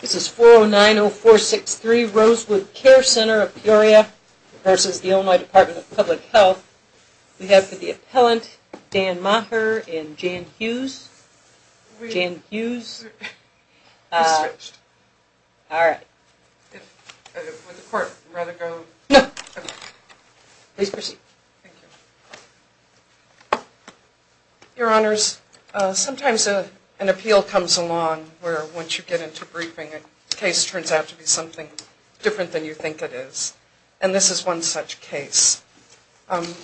This is 4090463 Rosewood Care Center of Peoria v. The Illinois Department of Public Health. We have for the appellant, Dan Maher and Jan Hughes. Jan Hughes. I switched. Alright. Would the court rather go? No. Please proceed. Thank you. Your Honors, sometimes an appeal comes along where once you get into briefing a case turns out to be something different than you think it is. And this is one such case.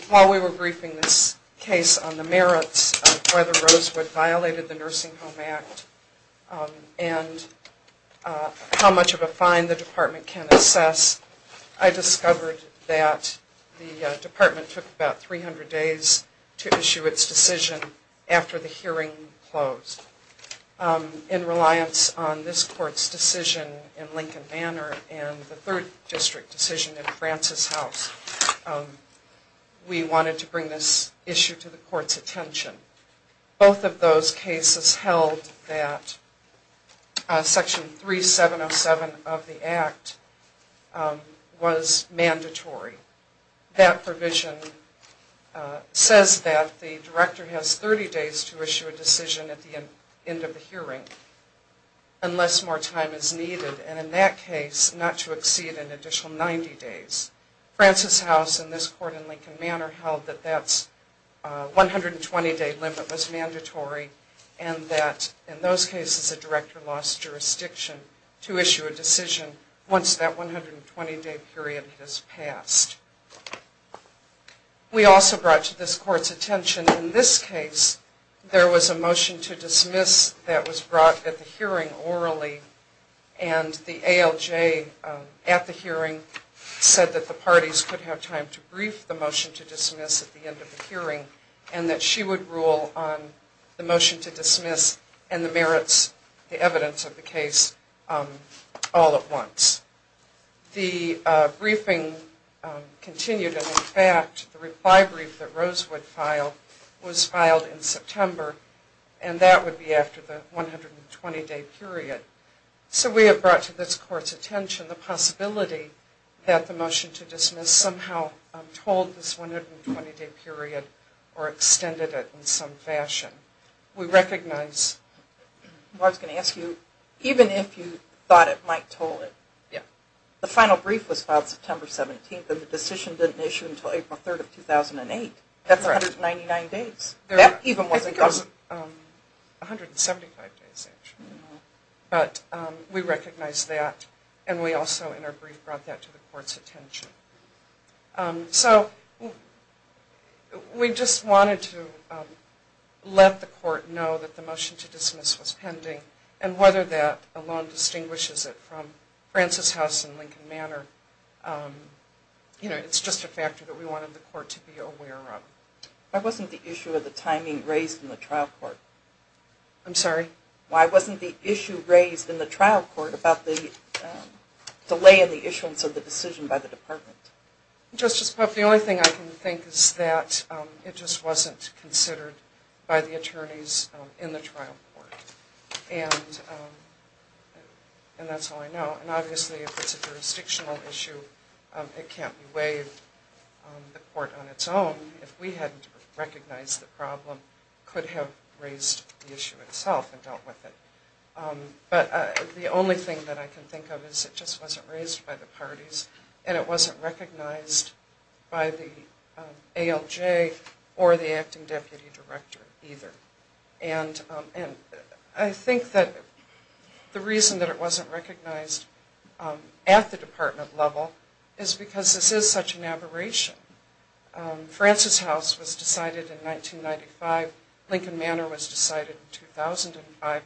While we were briefing this case on the merits of whether Rosewood violated the Nursing Home Act and how much of a fine the department can assess, I discovered that the department took about 300 days to issue its decision after the hearing closed. In reliance on this court's decision in Lincoln Manor and the 3rd District decision in Francis House, we wanted to bring this issue to the court's attention. Both of those cases held that Section 3707 of the Act was mandatory. That provision says that the director has 30 days to issue a decision at the end of the hearing unless more time is needed and in that case not to exceed an additional 90 days. Francis House and this court in Lincoln Manor held that that 120 day limit was mandatory and that in those cases a director lost jurisdiction to issue a decision once that 120 day period has passed. We also brought to this court's attention in this case there was a motion to dismiss that was brought at the hearing orally and the ALJ at the hearing said that the parties could have time to brief the motion to dismiss at the end of the hearing and that she would rule on the motion to dismiss and the merits, the evidence of the case all at once. The briefing continued and in fact the reply brief that Rosewood filed was filed in September and that would be after the 120 day period. So we have brought to this court's attention the possibility that the motion to dismiss somehow told this 120 day period or extended it in some fashion. We recognize... I was going to ask you, even if you thought it might told it, the final brief was filed September 17th and the decision didn't issue until April 3rd of 2008. That's 199 days. I think it was 175 days actually. But we recognize that and we also in our brief brought that to the court's attention. So we just wanted to let the court know that the motion to dismiss was pending and whether that alone distinguishes it from Francis House and Lincoln Manor. It's just a factor that we wanted the court to be aware of. Why wasn't the issue of the timing raised in the trial court? I'm sorry? Justice Puff, the only thing I can think is that it just wasn't considered by the attorneys in the trial court. And that's all I know. And obviously if it's a jurisdictional issue, it can't be waived. The court on its own, if we hadn't recognized the problem, could have raised the issue itself and dealt with it. But the only thing that I can think of is it just wasn't raised by the parties and it wasn't recognized by the ALJ or the acting deputy director either. And I think that the reason that it wasn't recognized at the department level is because this is such an aberration. Francis House was decided in 1995. Lincoln Manor was decided in 2005.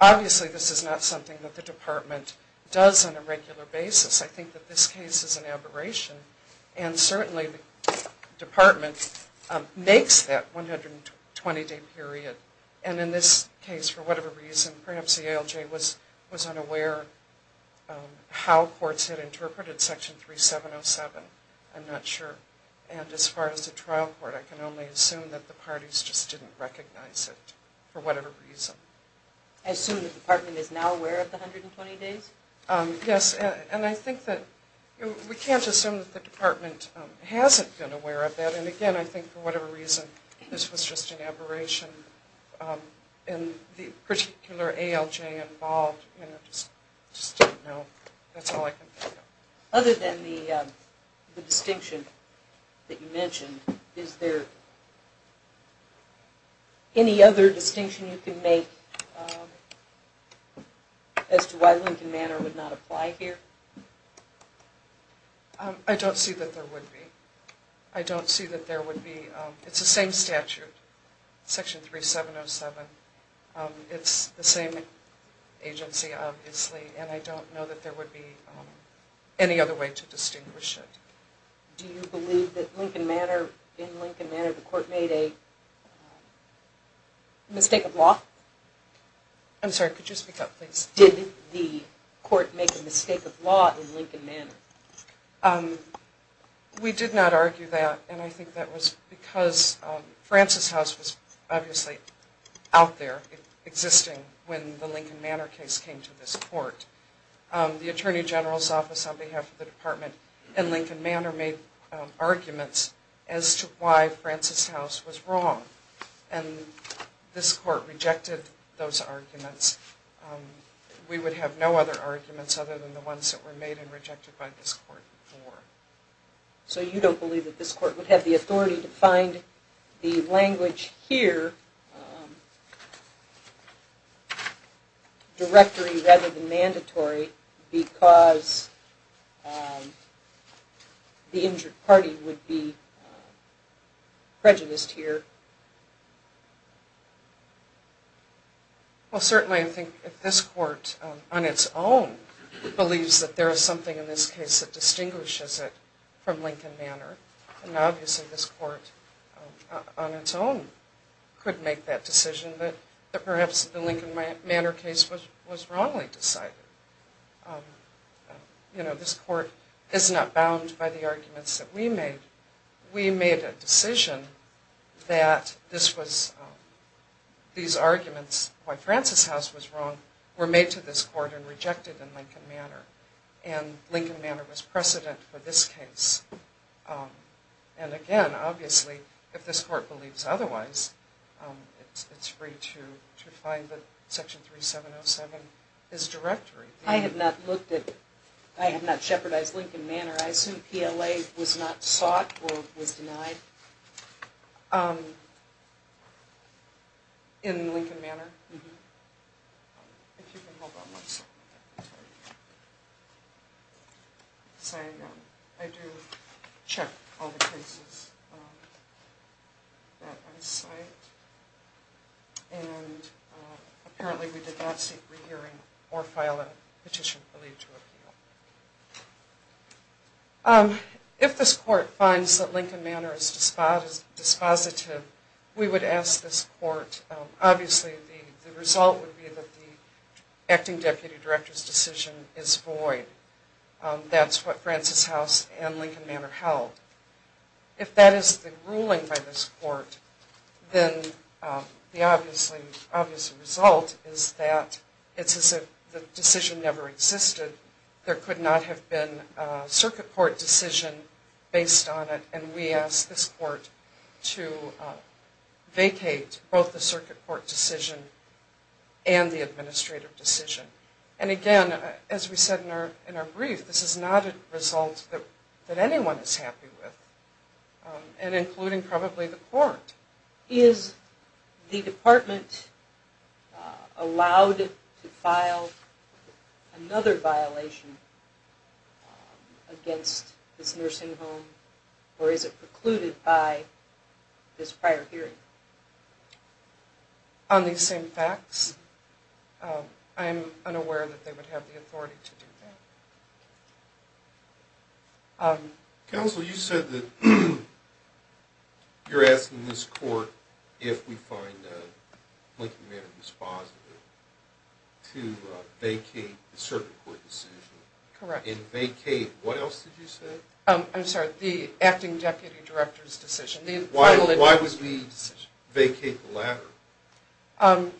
Obviously this is not something that the department does on a regular basis. I think that this case is an aberration. And certainly the department makes that 120-day period. And in this case, for whatever reason, perhaps the ALJ was unaware how courts had interpreted Section 3707. I'm not sure. And as far as the trial court, I can only assume that the parties just didn't recognize it for whatever reason. I assume the department is now aware of the 120 days? Yes. And I think that we can't assume that the department hasn't been aware of that. And again, I think for whatever reason, this was just an aberration. And the particular ALJ involved, I just don't know. That's all I can think of. Other than the distinction that you mentioned, is there any other distinction you can make as to why Lincoln Manor would not apply here? I don't see that there would be. I don't see that there would be. It's the same statute, Section 3707. It's the same agency, obviously. And I don't know that there would be any other way to distinguish it. Do you believe that in Lincoln Manor, the court made a mistake of law? I'm sorry, could you speak up, please? Did the court make a mistake of law in Lincoln Manor? We did not argue that. And I think that was because Francis House was obviously out there, existing, when the Lincoln Manor case came to this court. The Attorney General's office on behalf of the department in Lincoln Manor made arguments as to why Francis House was wrong. And this court rejected those arguments. We would have no other arguments other than the ones that were made and rejected by this court before. So you don't believe that this court would have the authority to find the language here directory rather than mandatory because the injured party would be prejudiced here? Well, certainly I think if this court on its own believes that there is something in this case that distinguishes it from Lincoln Manor, then obviously this court on its own could make that decision that perhaps the Lincoln Manor case was wrongly decided. You know, this court is not bound by the arguments that we made. We made a decision that these arguments why Francis House was wrong were made to this court and rejected in Lincoln Manor. And Lincoln Manor was precedent for this case. And again, obviously, if this court believes otherwise, it's free to find that Section 3707 is directory. I have not looked at, I have not shepherdized Lincoln Manor. I assume PLA was not sought or was denied? I do check all the cases that I cite and apparently we did not seek re-hearing or file a petition for leave to appeal. If this court finds that Lincoln Manor is dispositive, we would ask this court, obviously the result would be that the acting deputy director's decision is void. That's what Francis House and Lincoln Manor held. If that is the ruling by this court, then the obvious result is that it's as if the decision never existed. There could not have been a circuit court decision based on it and we ask this court to vacate both the circuit court decision and the administrative decision. And again, as we said in our brief, this is not a result that anyone is happy with and including probably the court. Is the department allowed to file another violation against this nursing home or is it precluded by this prior hearing? On these same facts, I'm unaware that they would have the authority to do that. Counsel, you said that you're asking this court if we find Lincoln Manor dispositive to vacate the circuit court decision. Correct. And vacate, what else did you say? I'm sorry, the acting deputy director's decision. Why would we vacate the latter?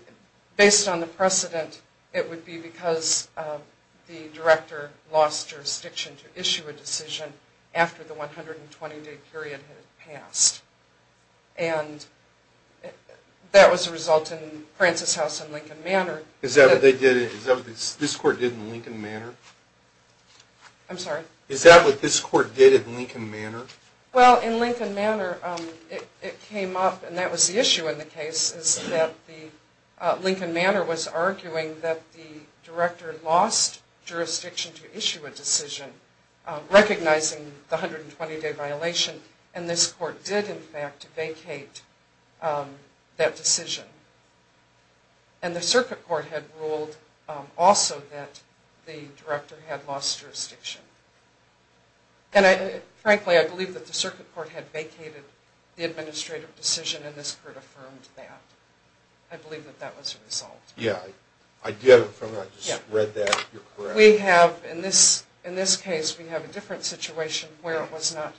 Based on the precedent, it would be because the director lost jurisdiction to issue a decision after the 120-day period had passed. And that was a result in Francis House and Lincoln Manor. Is that what this court did in Lincoln Manor? I'm sorry? Is that what this court did in Lincoln Manor? Well, in Lincoln Manor, it came up and that was the issue in the case is that Lincoln Manor was arguing that the director lost jurisdiction to issue a decision recognizing the 120-day violation and this court did in fact vacate that decision. And the circuit court had ruled also that the director had lost jurisdiction. And frankly, I believe that the circuit court had vacated the administrative decision and this court affirmed that. I believe that that was resolved. Yeah, I did affirm that. I just read that. You're correct. We have, in this case, we have a different situation where it was not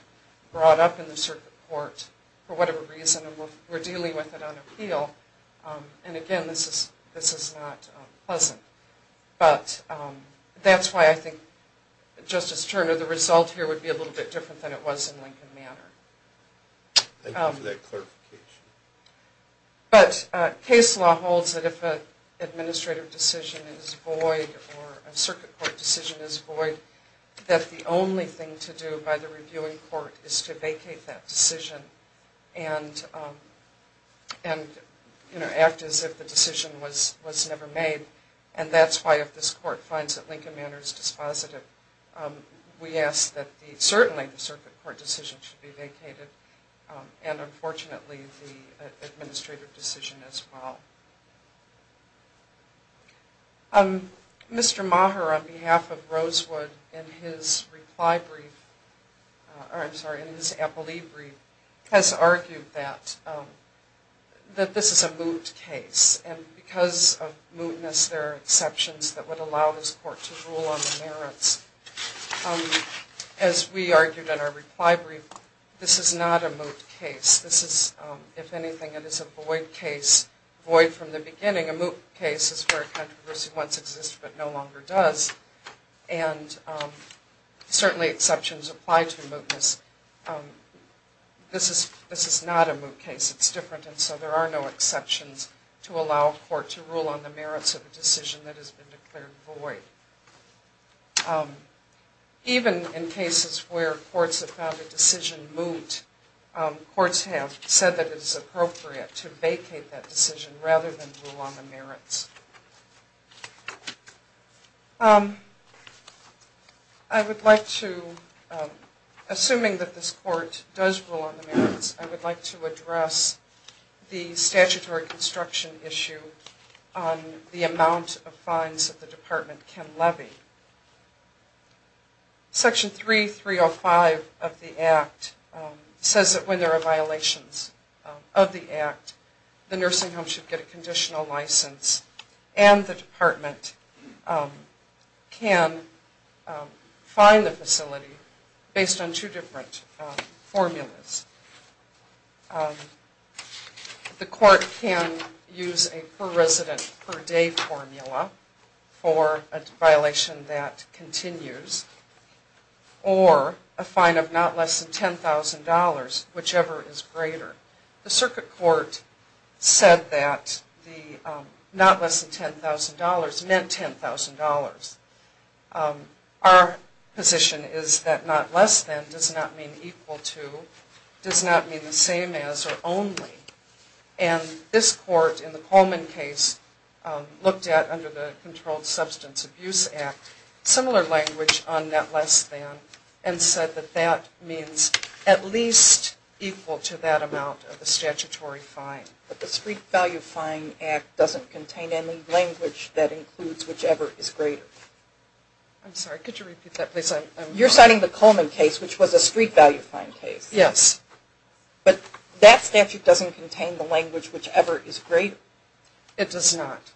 brought up in the circuit court for whatever reason and we're dealing with it on appeal and again, this is not pleasant. But that's why I think, Justice Turner, the result here would be a little bit different than it was in Lincoln Manor. Thank you for that clarification. But case law holds that if an administrative decision is void or a circuit court decision is void, that the only thing to do by the reviewing court is to vacate that decision and act as if the decision was never made. And that's why if this court finds that Lincoln Manor is dispositive, we ask that certainly the circuit court decision should be vacated and unfortunately the administrative decision as well. Mr. Maher, on behalf of Rosewood, in his reply brief, I'm sorry, in his appellee brief, has argued that this is a moot case. And because of mootness, there are exceptions that would allow this court to rule on the merits. As we argued in our reply brief, this is not a moot case. This is, if anything, it is a void case, void from the beginning. A moot case is where a controversy once existed but no longer does. And certainly exceptions apply to mootness. This is not a moot case. It's different. And so there are no exceptions to allow a court to rule on the merits of a decision that has been declared void. Even in cases where courts have found a decision moot, courts have said that it is appropriate to vacate that decision rather than rule on the merits. I would like to, assuming that this court does rule on the merits, I would like to address the statutory construction issue on the amount of fines that the department can levy. Section 3305 of the Act says that when there are violations of the Act, the nursing home should get a conditional license, and the department can fine the facility based on two different formulas. The court can use a per-resident, per-day formula for a violation that continues, or a fine of not less than $10,000, whichever is greater. The circuit court said that the not less than $10,000 meant $10,000. Our position is that not less than does not mean equal to, does not mean the same as, or only. And this court in the Coleman case looked at, under the Controlled Substance Abuse Act, similar language on not less than, and said that that means at least equal to that amount of the statutory fine. But the Street Value Fine Act doesn't contain any language that includes whichever is greater. I'm sorry, could you repeat that please? You're citing the Coleman case, which was a street value fine case. Yes. But that statute doesn't contain the language whichever is greater. It does not.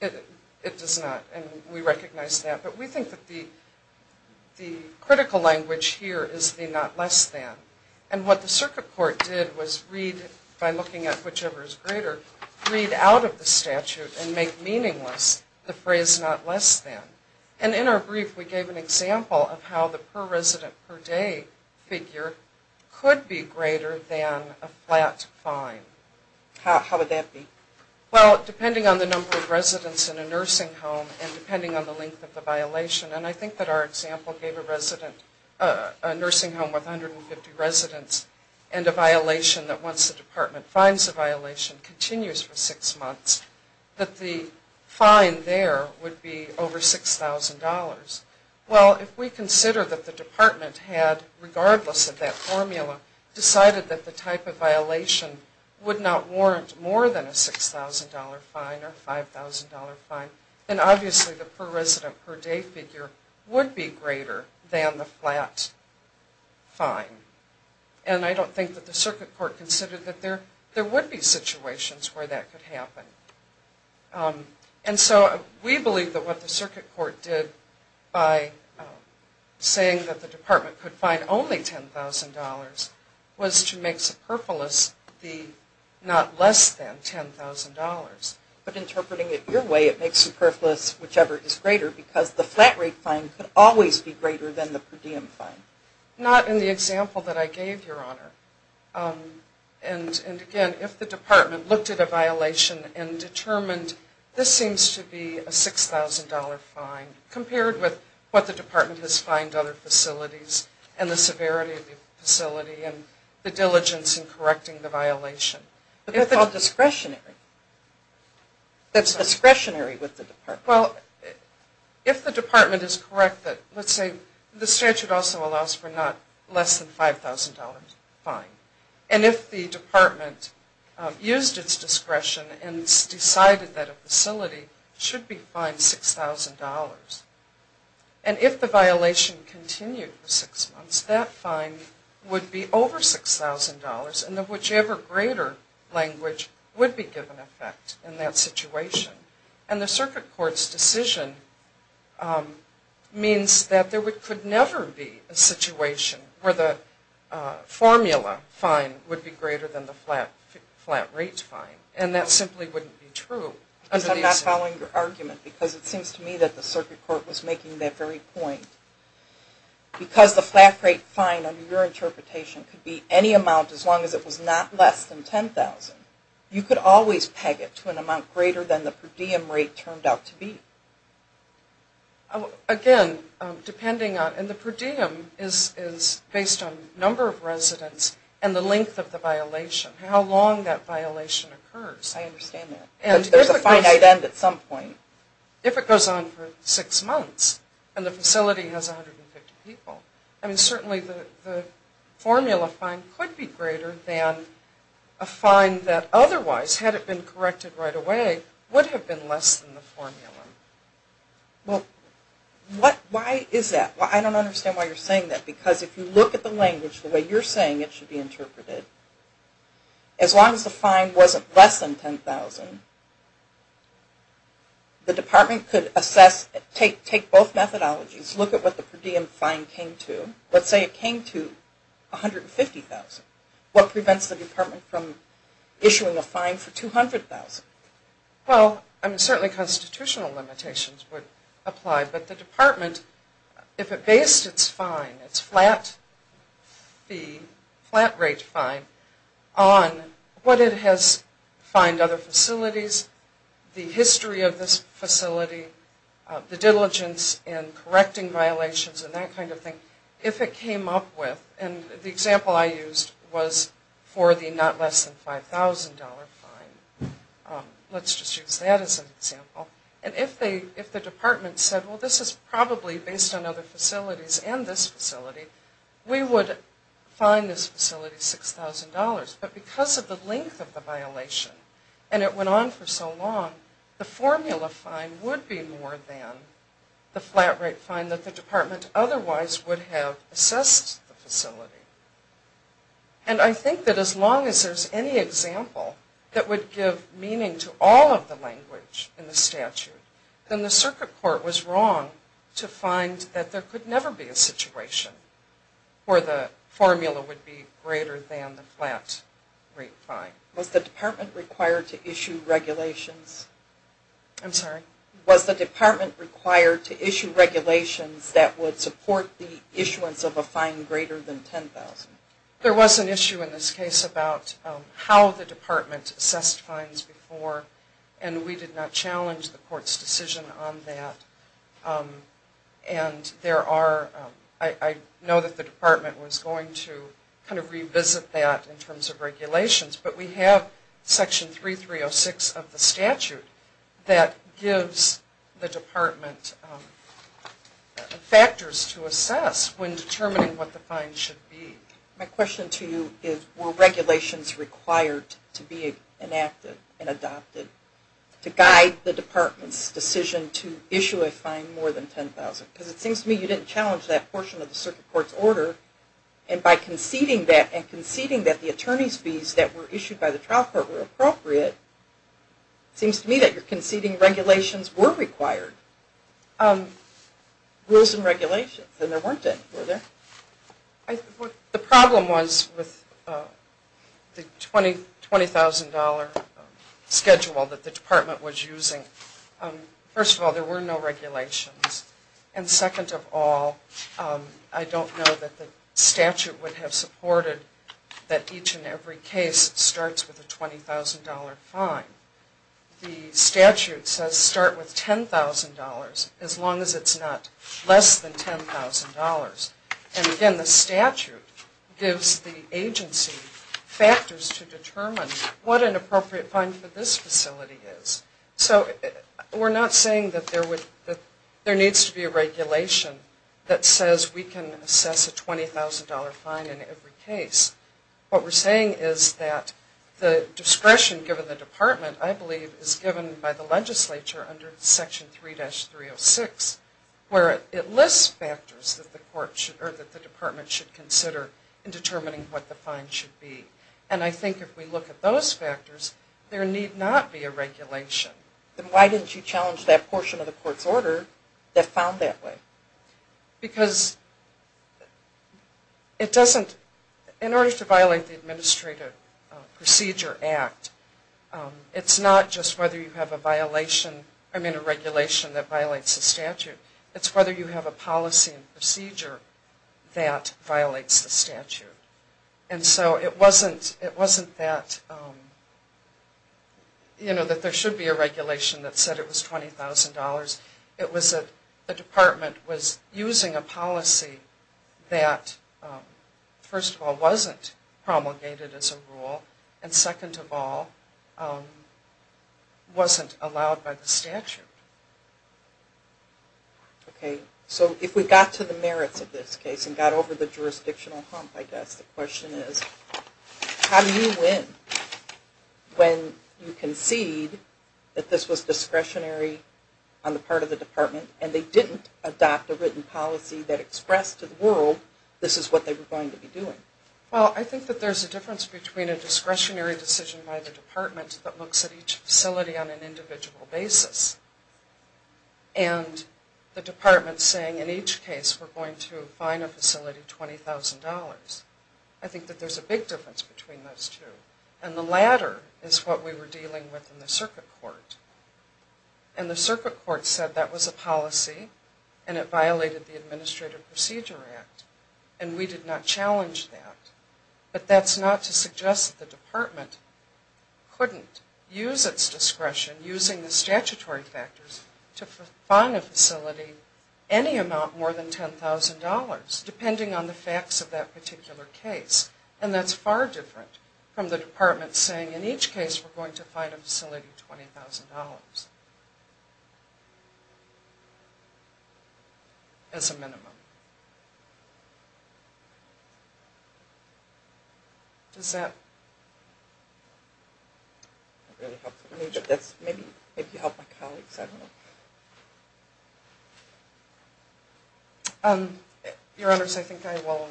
It does not, and we recognize that. But we think that the critical language here is the not less than. And what the circuit court did was read, by looking at whichever is greater, read out of the statute and make meaningless the phrase not less than. And in our brief, we gave an example of how the per-resident, per-day figure could be greater than a flat fine. How would that be? Well, depending on the number of residents in a nursing home and depending on the length of the violation, and I think that our example gave a resident, a nursing home with 150 residents, and a violation that once the department finds the violation continues for six months, that the fine there would be over $6,000. Well, if we consider that the department had, regardless of that formula, decided that the type of violation would not warrant more than a $6,000 fine or $5,000 fine, then obviously the per-resident, per-day figure would be greater than the flat fine. And I don't think that the circuit court considered that there would be situations where that could happen. And so we believe that what the circuit court did by saying that the department could fine only $10,000 was to make superfluous the not less than $10,000. But interpreting it your way, it makes superfluous whichever is greater, because the flat rate fine could always be greater than the per diem fine. Not in the example that I gave, Your Honor. And, again, if the department looked at a violation and determined, this seems to be a $6,000 fine compared with what the department has fined other facilities and the severity of the facility and the diligence in correcting the violation. But that's all discretionary. That's discretionary with the department. Well, if the department is correct that, let's say, the statute also allows for not less than $5,000 fine. And if the department used its discretion and decided that a facility should be fined $6,000. And if the violation continued for six months, that fine would be over $6,000 and whichever greater language would be given effect in that situation. And the circuit court's decision means that there could never be a situation where the formula fine would be greater than the flat rate fine. And that simply wouldn't be true. I'm not following your argument, because it seems to me that the circuit court was making that very point. Because the flat rate fine, under your interpretation, could be any amount as long as it was not less than $10,000, you could always peg it to an amount greater than the per diem rate turned out to be. Again, depending on, and the per diem is based on number of residents and the length of the violation, how long that violation occurs. I understand that. There's a finite end at some point. If it goes on for six months and the facility has 150 people, I mean certainly the formula fine could be greater than a fine that otherwise, had it been corrected right away, would have been less than the formula. Well, why is that? I don't understand why you're saying that. Because if you look at the language the way you're saying it should be interpreted, as long as the fine wasn't less than $10,000, the department could assess, take both methodologies, look at what the per diem fine came to. Let's say it came to $150,000. What prevents the department from issuing a fine for $200,000? Well, I mean certainly constitutional limitations would apply, but the department, if it based its fine, its flat rate fine, on what it has fined other facilities, the history of this facility, the diligence in correcting violations and that kind of thing, if it came up with, and the example I used was for the not less than $5,000 fine. Let's just use that as an example. And if the department said, well, this is probably based on other facilities and this facility, we would fine this facility $6,000. But because of the length of the violation and it went on for so long, the formula fine would be more than the flat rate fine that the department otherwise would have assessed the facility. And I think that as long as there's any example that would give meaning to all of the language in the statute, then the circuit court was wrong to find that there could never be a situation where the formula would be greater than the flat rate fine. Was the department required to issue regulations that would support the issuance of a fine greater than $10,000? There was an issue in this case about how the department assessed fines before and we did not challenge the court's decision on that. And there are, I know that the department was going to kind of revisit that in terms of regulations, but we have Section 3306 of the statute that gives the department factors to assess when determining what the fine should be. My question to you is were regulations required to be enacted and adopted to guide the department's decision to issue a fine more than $10,000? Because it seems to me you didn't challenge that portion of the circuit court's order and by conceding that and conceding that the attorney's fees that were issued by the trial court were appropriate, it seems to me that you're conceding regulations were required. Rules and regulations, and there weren't any, were there? The problem was with the $20,000 schedule that the department was using. First of all, there were no regulations. And second of all, I don't know that the statute would have supported that each and every case starts with a $20,000 fine. The statute says start with $10,000 as long as it's not less than $10,000. And again, the statute gives the agency factors to determine what an appropriate fine for this facility is. So we're not saying that there needs to be a regulation that says we can assess a $20,000 fine in every case. What we're saying is that the discretion given the department, I believe, is given by the legislature under Section 3-306 where it lists factors that the department should consider in determining what the fine should be. And I think if we look at those factors, there need not be a regulation. Then why didn't you challenge that portion of the court's order that found that way? Because in order to violate the Administrative Procedure Act, it's not just whether you have a regulation that violates the statute. It's whether you have a policy and procedure that violates the statute. And so it wasn't that there should be a regulation that said it was $20,000. It was that the department was using a policy that, first of all, wasn't promulgated as a rule, and second of all, wasn't allowed by the statute. Okay. So if we got to the merits of this case and got over the jurisdictional hump, I guess the question is, how do you win when you concede that this was discretionary on the part of the department and they didn't adopt a written policy that expressed to the world this is what they were going to be doing? Well, I think that there's a difference between a discretionary decision by the department that looks at each facility on an individual basis and the department saying in each case we're going to fine a facility $20,000. I think that there's a big difference between those two. And the latter is what we were dealing with in the circuit court. And the circuit court said that was a policy and it violated the Administrative Procedure Act, and we did not challenge that. But that's not to suggest that the department couldn't use its discretion, using the statutory factors, to fine a facility any amount more than $10,000 depending on the facts of that particular case. And that's far different from the department saying in each case we're going to fine a facility $20,000 as a minimum. Does that really help? Maybe that helps my colleagues, I don't know. Your Honors, I think I will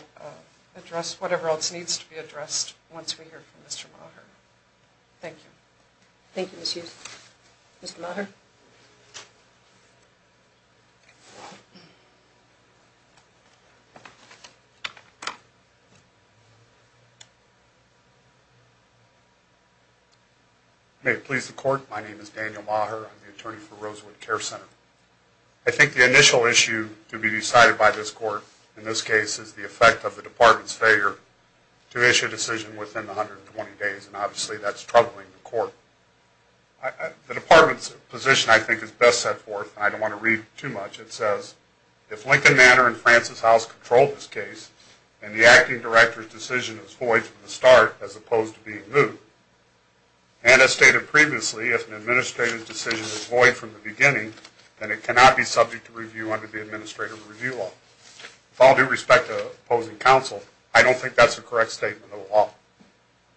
address whatever else needs to be addressed once we hear from Mr. Maher. Thank you. Thank you, Ms. Youth. Mr. Maher. May it please the Court, my name is Daniel Maher. I'm the attorney for Rosewood Care Facility. I think the initial issue to be decided by this Court in this case is the effect of the department's failure to issue a decision within 120 days, and obviously that's troubling the Court. The department's position, I think, is best set forth, and I don't want to read too much. It says, if Lincoln Manor and Francis House control this case, and the acting director's decision is void from the start as opposed to being moved, and as stated previously, if an administrator's decision is void from the beginning, then it cannot be subject to review under the Administrative Review Law. With all due respect to opposing counsel, I don't think that's a correct statement of the law.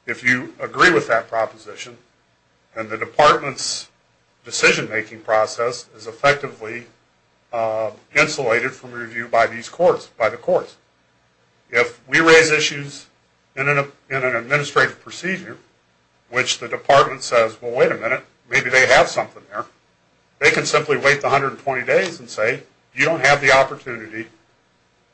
If you agree with that proposition, then the department's decision-making process is effectively insulated from review by these courts, by the courts. If we raise issues in an administrative procedure, which the department says, well, wait a minute, maybe they have something there, they can simply wait the 120 days and say, you don't have the opportunity,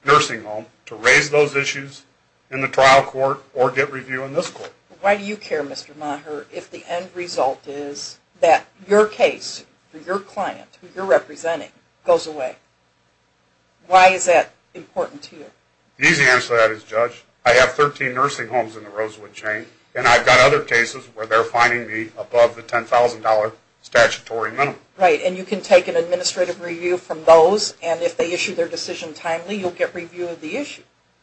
nursing home, to raise those issues in the trial court or get review in this court. Why do you care, Mr. Maher, if the end result is that your case for your client, who you're representing, goes away? Why is that important to you? The easy answer to that is, Judge, I have 13 nursing homes in the Rosewood chain, and I've got other cases where they're fining me above the $10,000 statutory minimum. Right, and you can take an administrative review from those, and if they issue their decision timely, you'll get review of the issue.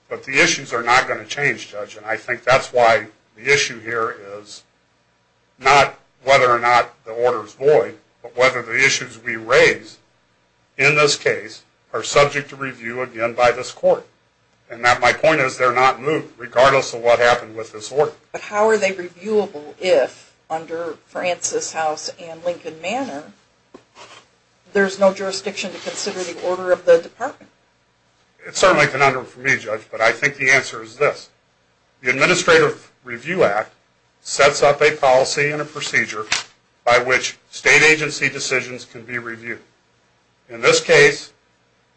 But the issues are not going to change, Judge, and I think that's why the issue here is not whether or not the order is void, but whether the issues we raise in this case are subject to review, again, by this court. And my point is, they're not moved, regardless of what happened with this order. But how are they reviewable if, under Francis House and Lincoln Manor, there's no jurisdiction to consider the order of the department? It's certainly a conundrum for me, Judge, but I think the answer is this. The Administrative Review Act sets up a policy and a procedure by which state agency decisions can be reviewed. In this case,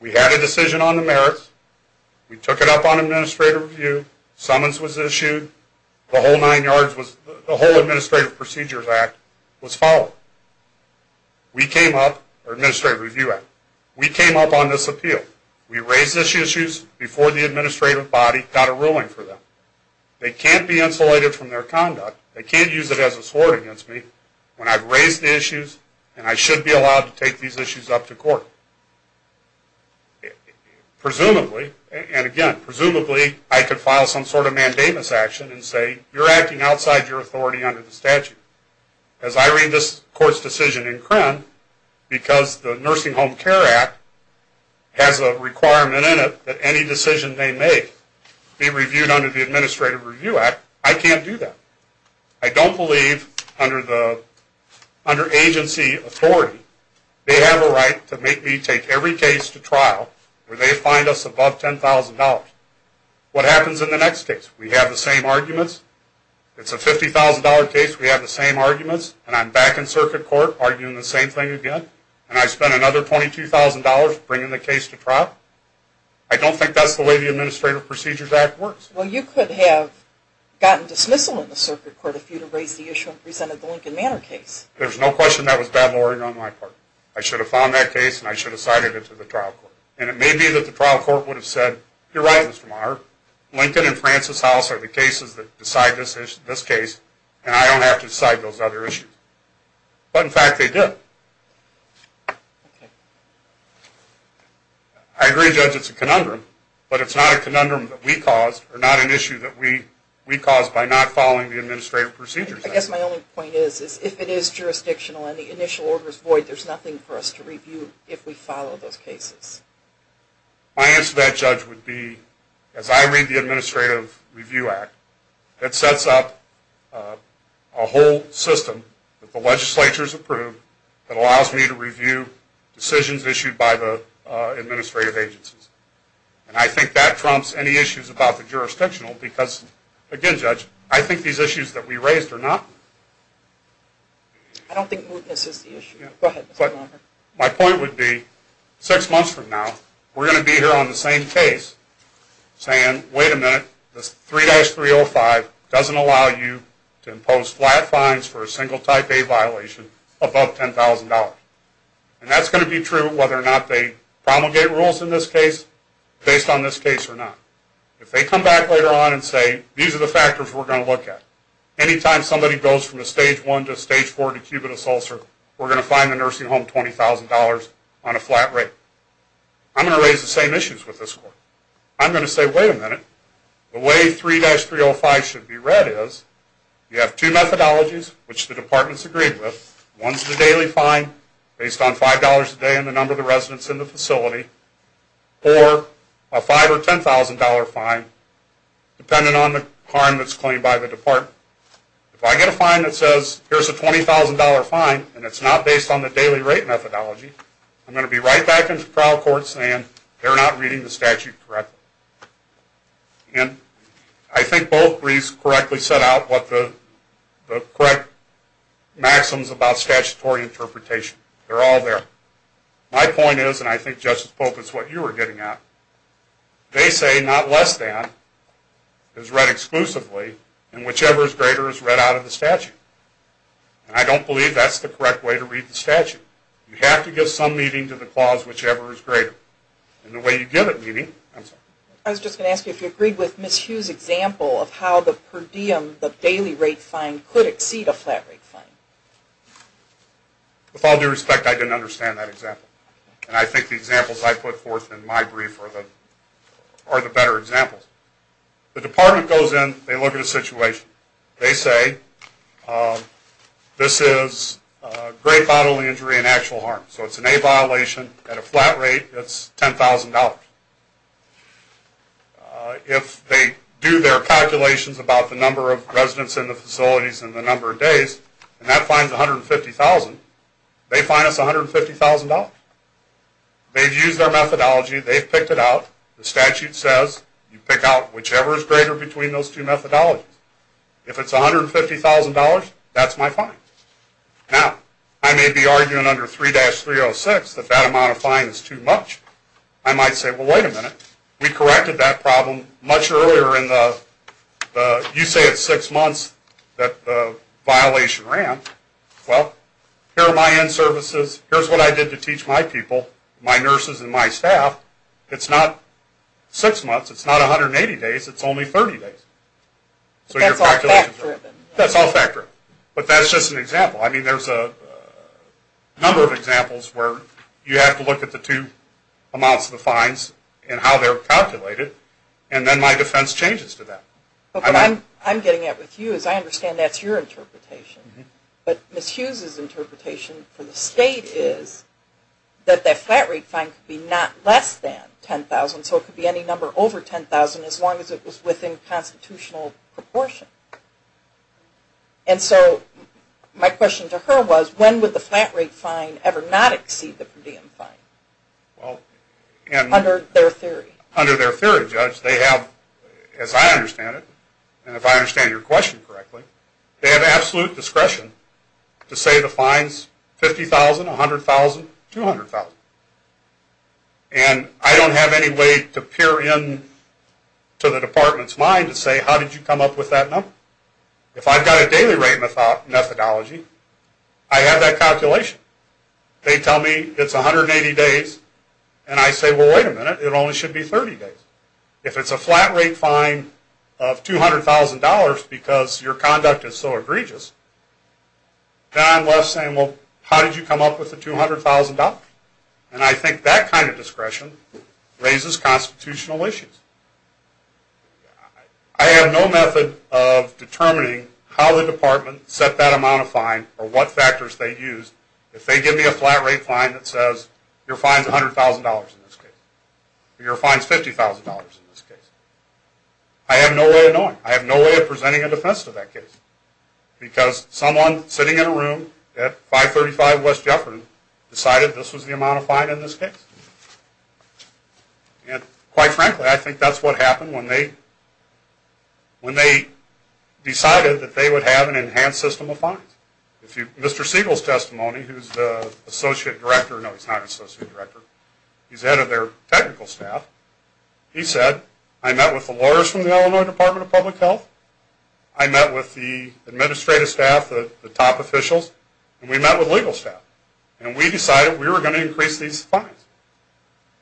we had a decision on the merits, we took it up on administrative review, summons was issued, the whole Administrative Procedures Act was followed. We came up, or Administrative Review Act, we came up on this appeal. We raised these issues before the administrative body got a ruling for them. They can't be insulated from their conduct, they can't use it as a sword against me, when I've raised the issues, and I should be allowed to take these issues up to court. Presumably, and again, presumably I could file some sort of mandamus action and say you're acting outside your authority under the statute. As I read this court's decision in Crenn, because the Nursing Home Care Act has a requirement in it that any decision they make be reviewed under the Administrative Review Act, I can't do that. I don't believe, under agency authority, they have a right to make me take every case to trial where they find us above $10,000. What happens in the next case? We have the same arguments, it's a $50,000 case, we have the same arguments, and I'm back in circuit court arguing the same thing again, and I spend another $22,000 bringing the case to trial. I don't think that's the way the Administrative Procedures Act works. Well, you could have gotten dismissal in the circuit court if you'd have raised the issue and presented the Lincoln Manor case. There's no question that was bad lowering on my part. I should have filed that case and I should have cited it to the trial court. And it may be that the trial court would have said, you're right, Mr. Maher, Lincoln and Francis House are the cases that decide this case and I don't have to decide those other issues. But, in fact, they did. I agree, Judge, it's a conundrum, but it's not a conundrum that we caused or not an issue that we caused by not following the Administrative Procedures Act. I guess my only point is if it is jurisdictional and the initial order is void, there's nothing for us to review if we follow those cases. My answer to that, Judge, would be, as I read the Administrative Review Act, it sets up a whole system that the legislature has approved that allows me to review decisions issued by the administrative agencies. And I think that trumps any issues about the jurisdictional because, again, Judge, I think these issues that we raised are not. I don't think mootness is the issue. Go ahead, Mr. Maher. My point would be, six months from now, we're going to be here on the same case saying, wait a minute, this 3-305 doesn't allow you to impose flat fines for a single type A violation above $10,000. And that's going to be true whether or not they promulgate rules in this case, based on this case or not. If they come back later on and say, these are the factors we're going to look at. Anytime somebody goes from a Stage 1 to a Stage 4 decubitus ulcer, we're going to fine the nursing home $20,000 on a flat rate. I'm going to raise the same issues with this court. I'm going to say, wait a minute, the way 3-305 should be read is you have two methodologies, which the departments agreed with. One's the daily fine, based on $5 a day and the number of the residents in the facility, or a $5,000 or $10,000 fine dependent on the harm that's claimed by the department. If I get a fine that says, here's a $20,000 fine, and it's not based on the daily rate methodology, I'm going to be right back into trial court saying they're not reading the statute correctly. And I think both briefs correctly set out what the correct maxims about statutory interpretation. They're all there. My point is, and I think Justice Pope is what you were getting at, they say not less than is read exclusively and whichever is greater is read out of the statute. And I don't believe that's the correct way to read the statute. You have to give some meaning to the clause, whichever is greater. And the way you give it meaning... I was just going to ask you if you agreed with Ms. Hughes' example of how the per diem, the daily rate fine, could exceed a flat rate fine. With all due respect, I didn't understand that example. And I think the examples I put forth in my brief are the better examples. The department goes in, they look at a situation. They say, this is great bodily injury and actual harm. So it's an A violation. At a flat rate, it's $10,000. If they do their calculations about the number of residents in the facilities and the number of days, and that fines $150,000, they fine us $150,000. They've used our methodology. They've picked it out. The statute says you pick out whichever is greater between those two methodologies. If it's $150,000, that's my fine. Now, I may be arguing under 3-306 that that amount of fine is too much. I might say, well, wait a minute. We corrected that problem much earlier in the... You say it's six months that the violation ran. Well, here are my end services. Here's what I did to teach my people, my nurses and my staff. It's not six months. It's not 180 days. So your calculations are... But that's all fact driven. That's all fact driven. But that's just an example. I mean, there's a number of examples where you have to look at the two amounts of the fines and how they're calculated, and then my defense changes to that. But what I'm getting at with you is I understand that's your interpretation. But Ms. Hughes's interpretation for the state is that that flat rate fine could be not less than $10,000, so it could be any number over $10,000 as long as it was within constitutional proportion. And so my question to her was, when would the flat rate fine ever not exceed the per diem fine? Under their theory. Under their theory, Judge. They have, as I understand it, and if I understand your question correctly, they have absolute discretion to say the fines, $50,000, $100,000, $200,000. And I don't have any way to peer into the department's mind to say, how did you come up with that number? If I've got a daily rate methodology, I have that calculation. They tell me it's 180 days, and I say, well, wait a minute. It only should be 30 days. If it's a flat rate fine of $200,000 because your conduct is so egregious, then I'm left saying, well, how did you come up with the $200,000? And I think that kind of discretion raises constitutional issues. I have no method of determining how the department set that amount of fine or what factors they used if they give me a flat rate fine that says your fine's $100,000 in this case, or your fine's $50,000 in this case. I have no way of knowing. I have no way of presenting a defense to that case because someone sitting in a room at 535 West Jefferson decided this was the amount of fine in this case. And quite frankly, I think that's what happened when they decided that they would have an enhanced system of fines. Mr. Siegel's testimony, who's the associate director, no, he's not an associate director. He's head of their technical staff. He said, I met with the lawyers from the Illinois Department of Public Health. I met with the administrative staff, the top officials, and we met with legal staff. And we decided we were going to increase these fines.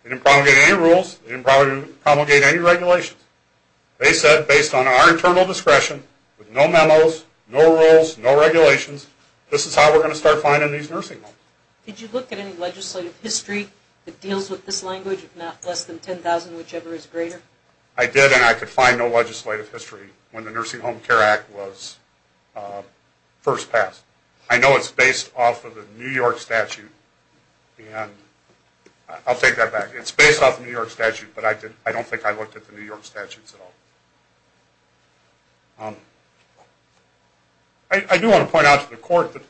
They didn't promulgate any rules. They didn't promulgate any regulations. They said, based on our internal discretion, with no memos, no rules, no regulations, this is how we're going to start fining these nursing homes. Did you look at any legislative history that deals with this language, if not less than $10,000, whichever is greater? I did, and I could find no legislative history when the Nursing Home Care Act was first passed. I know it's based off of the New York statute, and I'll take that back. It's based off the New York statute, but I don't think I looked at the New York statutes at all. I do want to point out to the court that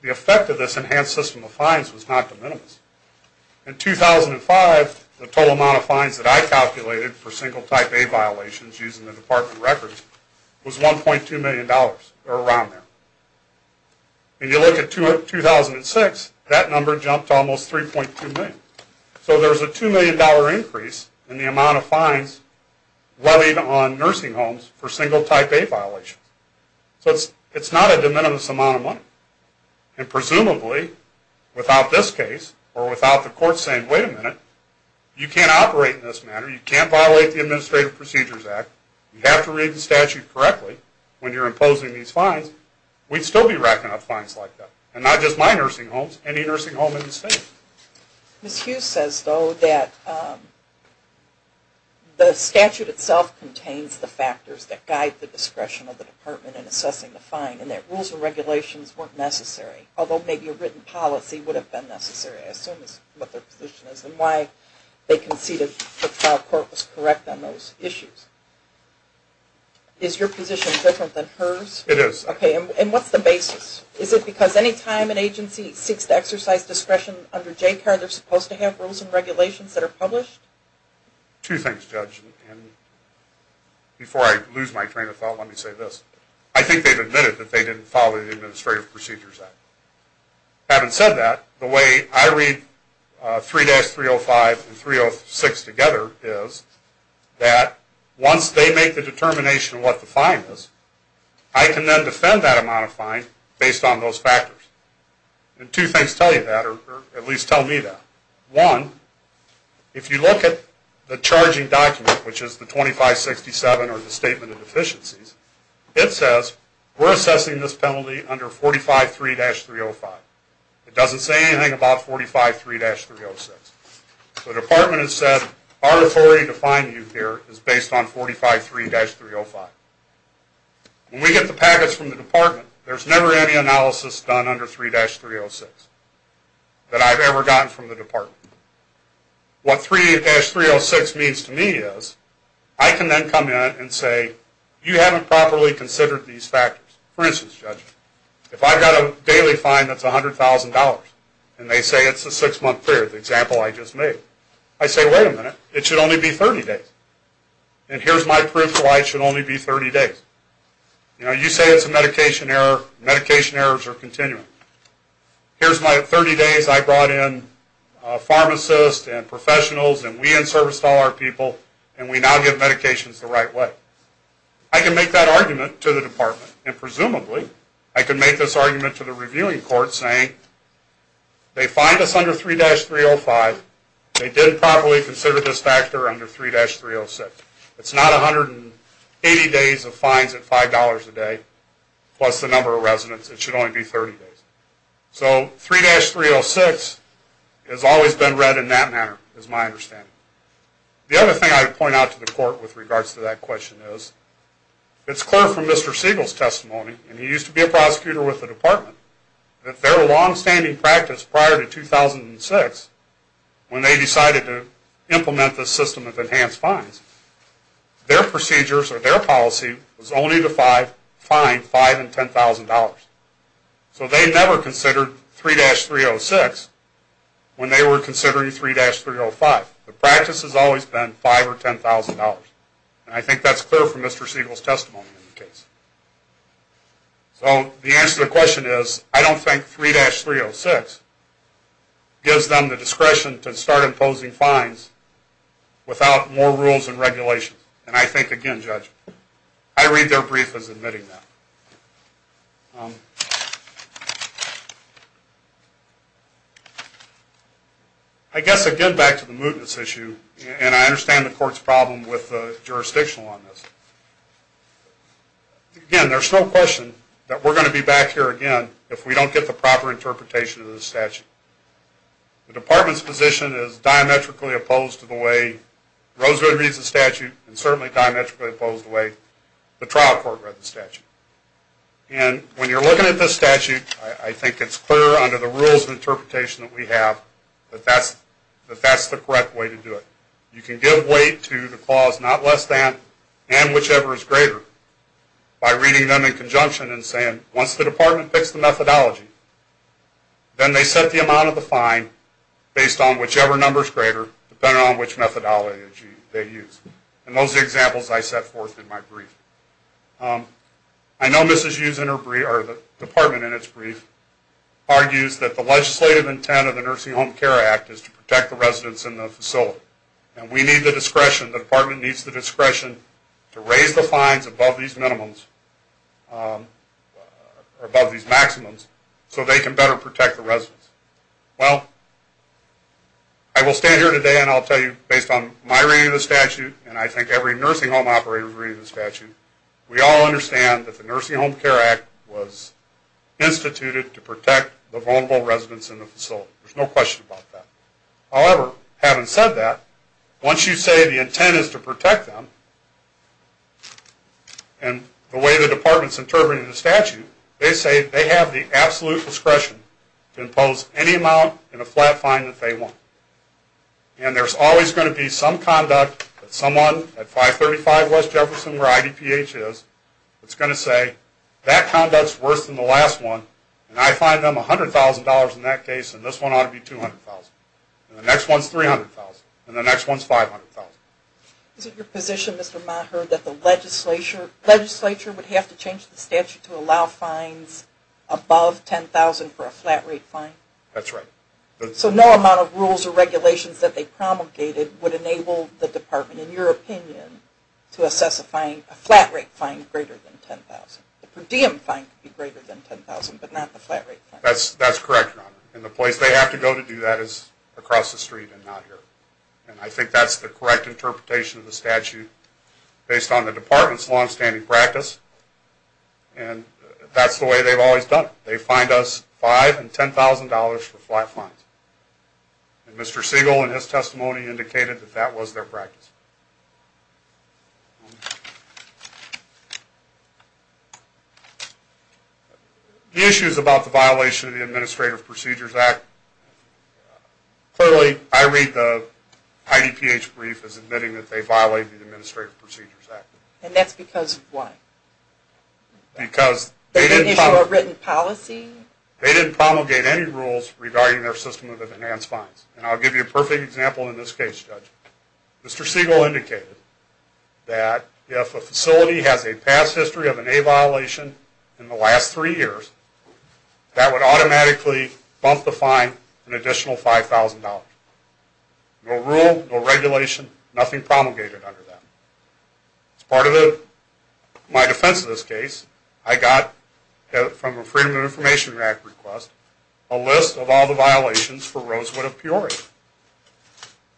the effect of this enhanced system of fines was not de minimis. In 2005, the total amount of fines that I calculated for single type A violations, using the department records, was $1.2 million, or around there. And you look at 2006, that number jumped to almost $3.2 million. So there's a $2 million increase in the amount of fines levied on nursing homes for single type A violations. So it's not a de minimis amount of money. And presumably, without this case, or without the court saying, wait a minute, you can't operate in this manner, you can't violate the Administrative Procedures Act, you have to read the statute correctly when you're imposing these fines, we'd still be racking up fines like that. And not just my nursing homes, any nursing home in the state. Ms. Hughes says, though, that the statute itself contains the factors that guide the discretion of the department in assessing the fine, and that rules and regulations weren't necessary, although maybe a written policy would have been necessary. I assume that's what their position is, and why they conceded that the trial court was correct on those issues. Is your position different than hers? It is. Okay, and what's the basis? Is it because any time an agency seeks to exercise discretion under JCAR, they're supposed to have rules and regulations that are published? Two things, Judge, and before I lose my train of thought, let me say this. I think they've admitted that they didn't follow the Administrative Procedures Act. Having said that, the way I read 3-305 and 306 together is that once they make the determination of what the fine is, I can then defend that amount of fine based on those factors. And two things tell you that, or at least tell me that. One, if you look at the charging document, which is the 2567 or the Statement of Deficiencies, it says we're assessing this penalty under 45-3-305. It doesn't say anything about 45-3-306. The Department has said our authority to fine you here is based on 45-3-305. When we get the packets from the Department, there's never any analysis done under 3-306 that I've ever gotten from the Department. What 3-306 means to me is I can then come in and say you haven't properly considered these factors. For instance, Judge, if I've got a daily fine that's $100,000 and they say it's a 6-month period, the example I just made, I say wait a minute, it should only be 30 days. And here's my proof why it should only be 30 days. You know, you say it's a medication error, medication errors are continuing. Here's my 30 days I brought in pharmacists and professionals and we unserviced all our people and we now give medications the right way. I can make that argument to the Department and presumably I can make this argument to the reviewing court saying they fined us under 3-305, they didn't properly consider this factor under 3-306. It's not 180 days of fines at $5 a day plus the number of residents, it should only be 30 days. So 3-306 has always been read in that manner is my understanding. The other thing I would point out to the court with regards to that question is it's clear from Mr. Siegel's testimony and he used to be a prosecutor with the Department that their longstanding practice prior to 2006 when they decided to implement this system of enhanced fines, their procedures or their policy was only to fine $5,000 and $10,000. So they never considered 3-306 when they were considering 3-305. The practice has always been $5,000 or $10,000. I think that's clear from Mr. Siegel's testimony in the case. So the answer to the question is I don't think 3-306 gives them the discretion to start imposing fines without more rules and regulations. And I think again, Judge, I read their brief as admitting that. I guess again back to the mootness issue and I understand the court's problem with the jurisdictional on this. Again, there's no question that we're going to be back here again if we don't get the proper interpretation of this statute. The Department's position is diametrically opposed to the way Rosebud reads the statute and certainly diametrically opposed to the way the trial court read the statute. And when you're looking at this statute I think it's clear under the rules of interpretation that we have that that's the correct way to do it. You can give weight to the clause not less than and whichever is greater by reading them in conjunction and saying once the Department picks the methodology then they set the amount of the fine based on whichever number is greater depending on which methodology they use. And those are the examples I set forth in my brief. I know Mrs. Hughes and her department in its brief argues that the legislative intent of the Nursing Home Care Act is to protect the residents in the facility. And we need the discretion, the Department needs the discretion to raise the fines above these minimums or above these maximums so they can better protect the residents. Well, I will stand here today and I'll tell you based on my reading of the statute and I think every nursing home operator's reading of the statute we all understand that the Nursing Home Care Act was instituted to protect the vulnerable residents in the facility. There's no question about that. However, having said that once you say the intent is to protect them and the way the Department is interpreting the statute they say they have the absolute discretion to impose any amount in a flat fine that they want. And there's always going to be some conduct that someone at 535 West Jefferson where IDPH is that's going to say that conduct's worse than the last one and I fine them $100,000 in that case and this one ought to be $200,000 and the next one's $300,000 and the next one's $500,000. Is it your position, Mr. Maher, that the legislature would have to change the statute to allow fines above $10,000 for a flat rate fine? That's right. So no amount of rules or regulations that they promulgated would enable the Department, in your opinion, to assess a flat rate fine greater than $10,000? The per diem fine could be greater than $10,000 but not the flat rate fine. That's correct, Your Honor. And the place they have to go to do that is across the street and not here. And I think that's the correct interpretation of the statute based on the Department's longstanding practice and that's the way they've always done it. They fine us $5,000 and $10,000 for flat fines. And Mr. Siegel in his testimony indicated that that was their practice. The issues about the violation of the Administrative Procedures Act, clearly I read the IDPH brief as admitting that they violated the Administrative Procedures Act. And that's because of what? Because they didn't promulgate any rules regarding their system of enhanced fines. And I'll give you a perfect example in this case, Judge. Mr. Siegel indicated that if a facility has a past history of an A violation in the last three years, that would automatically bump the fine an additional $5,000. No rule, no regulation, nothing promulgated under that. As part of my defense of this case, I got from a Freedom of Information Act request a list of all the violations for Rosewood of Peoria.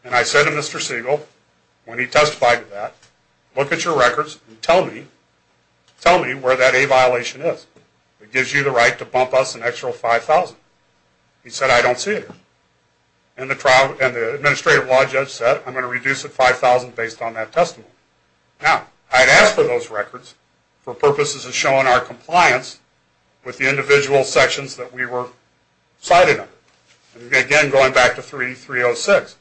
And I said to Mr. Siegel, when he testified to that, look at your records and tell me where that A violation is. It gives you the right to bump us an extra $5,000. He said, I don't see it here. And the Administrative Law Judge said, I'm going to reduce it $5,000 based on that testimony. Now, I had asked for those records for purposes of showing our compliance with the individual sections that we were cited under. And again, going back to 3.306,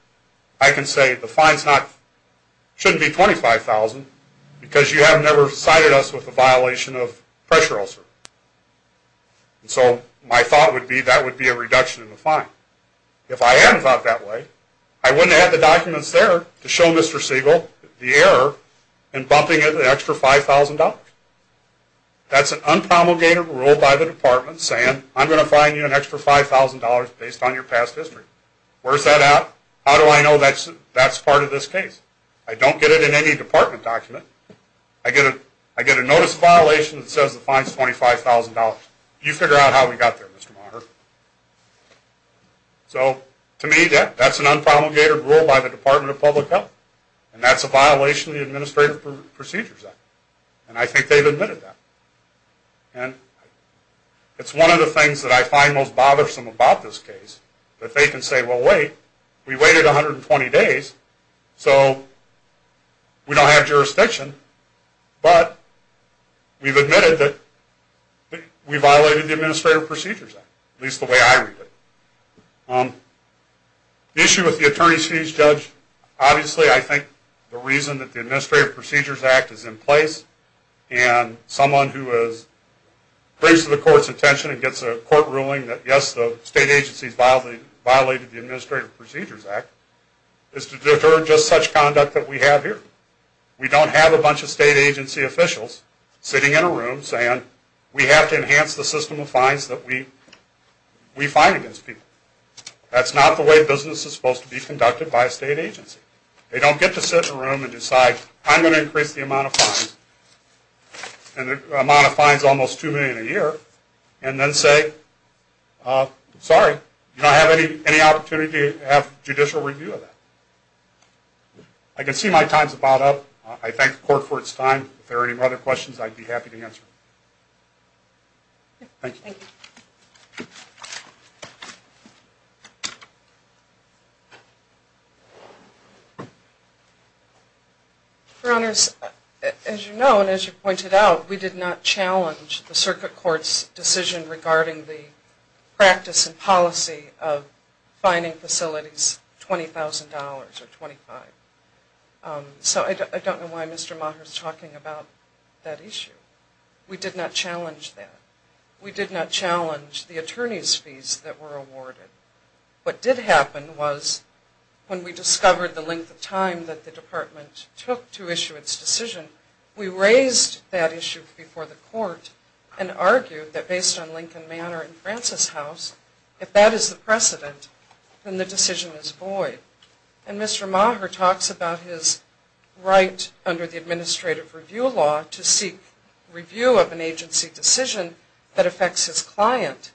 I can say the fine shouldn't be $25,000 because you have never cited us with a violation of pressure ulcer. So my thought would be that would be a reduction in the fine. If I hadn't thought that way, I wouldn't have had the documents there to show Mr. Siegel the error in bumping it an extra $5,000. That's an unpromulgated rule by the Department saying, I'm going to fine you an extra $5,000 based on your past history. Where's that at? How do I know that's part of this case? I don't get it in any Department document. I get a notice of violation that says the fine is $25,000. You figure out how we got there, Mr. Monner. So, to me, that's an unpromulgated rule by the Department of Public Health. And that's a violation of the Administrative Procedures Act. And I think they've admitted that. And it's one of the things that I find most bothersome about this case that they can say, well, wait, we waited 120 days, so we don't have jurisdiction, but we've admitted that we violated the Administrative Procedures Act, at least the way I read it. The issue with the attorney's fees judge, obviously I think the reason that the Administrative Procedures Act is in place and someone who brings to the court's attention and gets a court ruling that, yes, the state agencies violated the Administrative Procedures Act, is to deter just such conduct that we have here. We don't have a bunch of state agency officials sitting in a room saying, we have to enhance the system of fines that we fine against people. That's not the way business is supposed to be conducted by a state agency. They don't get to sit in a room and decide, I'm going to increase the amount of fines, and the amount of fines is almost $2 million a year, and then say, sorry, you don't have any opportunity to have judicial review of that. I can see my time's about up. I thank the court for its time. If there are any other questions, I'd be happy to answer them. Thank you. Thank you. Your Honors, as you know and as you pointed out, we did not challenge the Circuit Court's decision regarding the practice and policy of fining facilities $20,000 or $25,000. So I don't know why Mr. Maher is talking about that issue. We did not challenge that. We did not challenge the attorney's fees that were awarded. What did happen was when we discovered the length of time that the department took to issue its decision, we raised that issue before the court and argued that based on Lincoln Manor and Francis House, if that is the precedent, then the decision is void. And Mr. Maher talks about his right under the administrative review law to seek review of an agency decision that affects his client.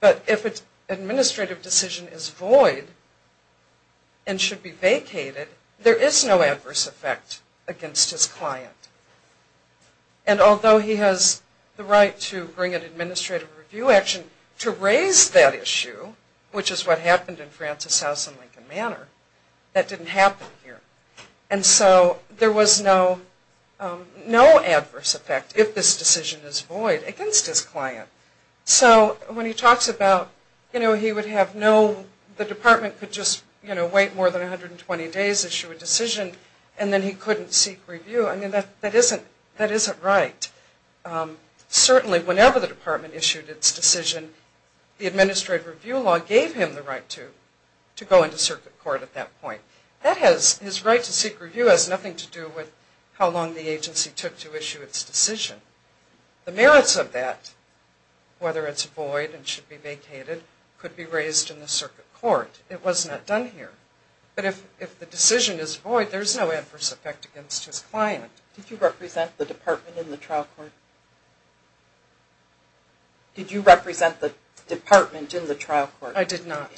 But if an administrative decision is void and should be vacated, there is no adverse effect against his client. And although he has the right to bring an administrative review action to raise that issue, which is what happened in Francis House and Lincoln Manor, that didn't happen here. And so there was no adverse effect if this decision is void against his client. So when he talks about, you know, he would have no, the department could just wait more than 120 days, issue a decision, and then he couldn't seek review. I mean, that isn't right. Certainly whenever the department issued its decision, the administrative review law gave him the right to go into circuit court at that point. That has, his right to seek review has nothing to do with how long the agency took to issue its decision. The merits of that, whether it's void and should be vacated, could be raised in the circuit court. It was not done here. But if the decision is void, there's no adverse effect against his client. Did you represent the department in the trial court? Did you represent the department in the trial court? I did not.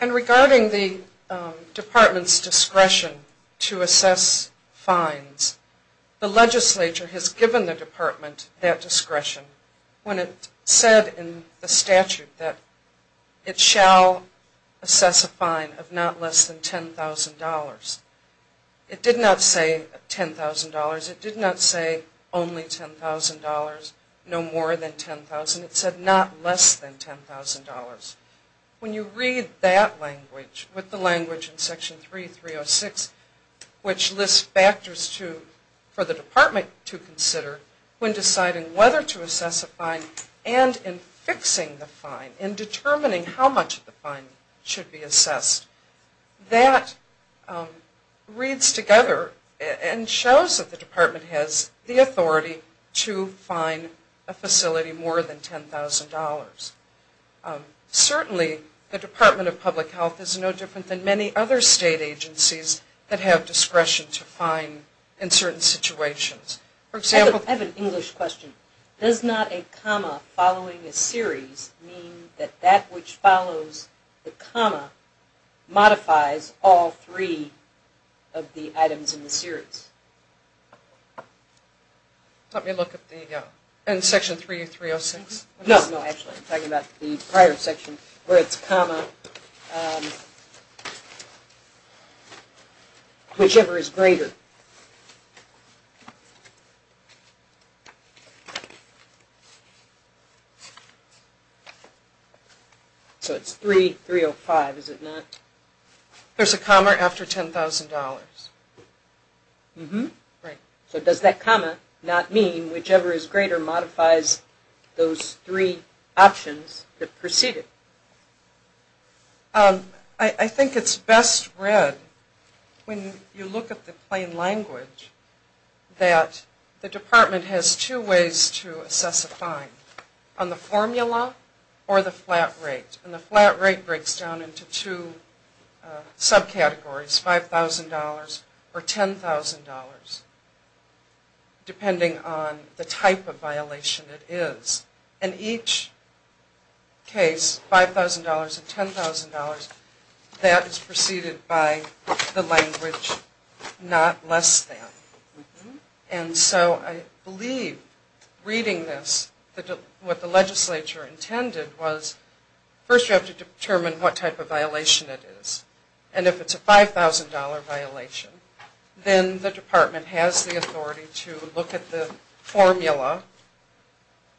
And regarding the department's discretion to assess fines, the legislature has given the department that discretion when it said in the statute that it shall assess a fine of not less than $10,000. It did not say $10,000. It did not say only $10,000, no more than $10,000. It said not less than $10,000. When you read that language with the language in Section 3306, which lists factors for the department to consider when deciding whether to assess a fine and in fixing the fine, in determining how much of the fine should be assessed, that reads together and shows that the department has the authority to fine a facility more than $10,000. Certainly, the Department of Public Health is no different than many other state agencies that have discretion to fine in certain situations. I have an English question. Does not a comma following a series mean that that which follows the comma modifies all three of the items in the series? Let me look at the section 3306. No, actually, I'm talking about the prior section where it's comma whichever is greater. So it's 3305, is it not? There's a comma after $10,000. Right. So does that comma not mean whichever is greater modifies those three options that preceded? I think it's best read. When you look at the plain language, that the department has two ways to assess a fine, on the formula or the flat rate. And the flat rate breaks down into two subcategories, $5,000 or $10,000, depending on the type of violation it is. In each case, $5,000 and $10,000, that is preceded by the language not less than. And so I believe reading this, what the legislature intended was first you have to determine what type of violation it is. And if it's a $5,000 violation, then the department has the authority to look at the formula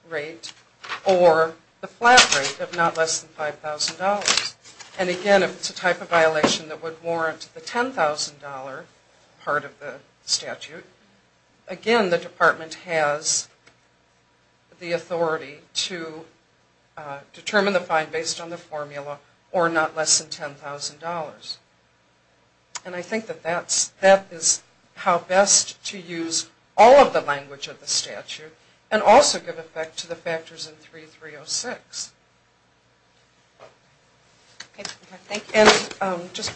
rate or the flat rate of not less than $5,000. And again, if it's a type of violation that would warrant the $10,000 part of the statute, again, the department has the authority to determine the fine based on the formula or not less than $10,000. And I think that that is how best to use all of the language of the statute and also give effect to the factors in 3306. And just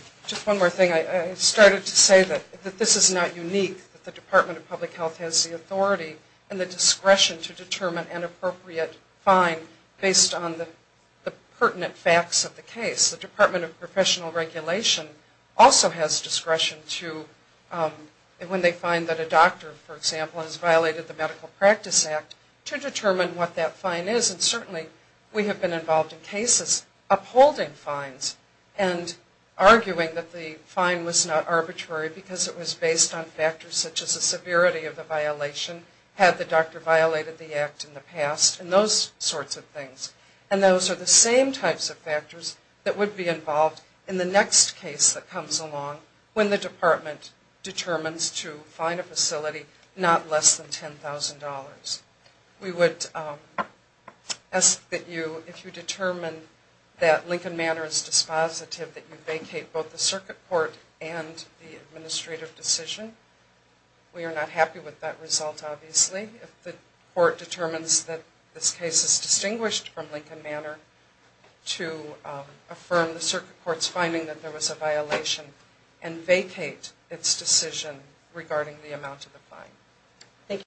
one more thing, I started to say that this is not unique, that the Department of Public Health has the authority and the discretion to determine an appropriate fine based on the pertinent facts of the case. The Department of Professional Regulation also has discretion to, when they find that a doctor, for example, has violated the Medical Practice Act, to determine what that fine is. And certainly we have been involved in cases upholding fines and arguing that the fine was not arbitrary because it was based on factors such as the severity of the violation, had the doctor violated the act in the past, and those sorts of things. And those are the same types of factors that would be involved in the next case that comes along when the department determines to fine a facility not less than $10,000. We would ask that you, if you determine that Lincoln Manor is dispositive, that you vacate both the circuit court and the administrative decision. We are not happy with that result, obviously. The court determines that this case is distinguished from Lincoln Manor to affirm the circuit court's finding that there was a violation and vacate its decision regarding the amount of the fine. Thank you.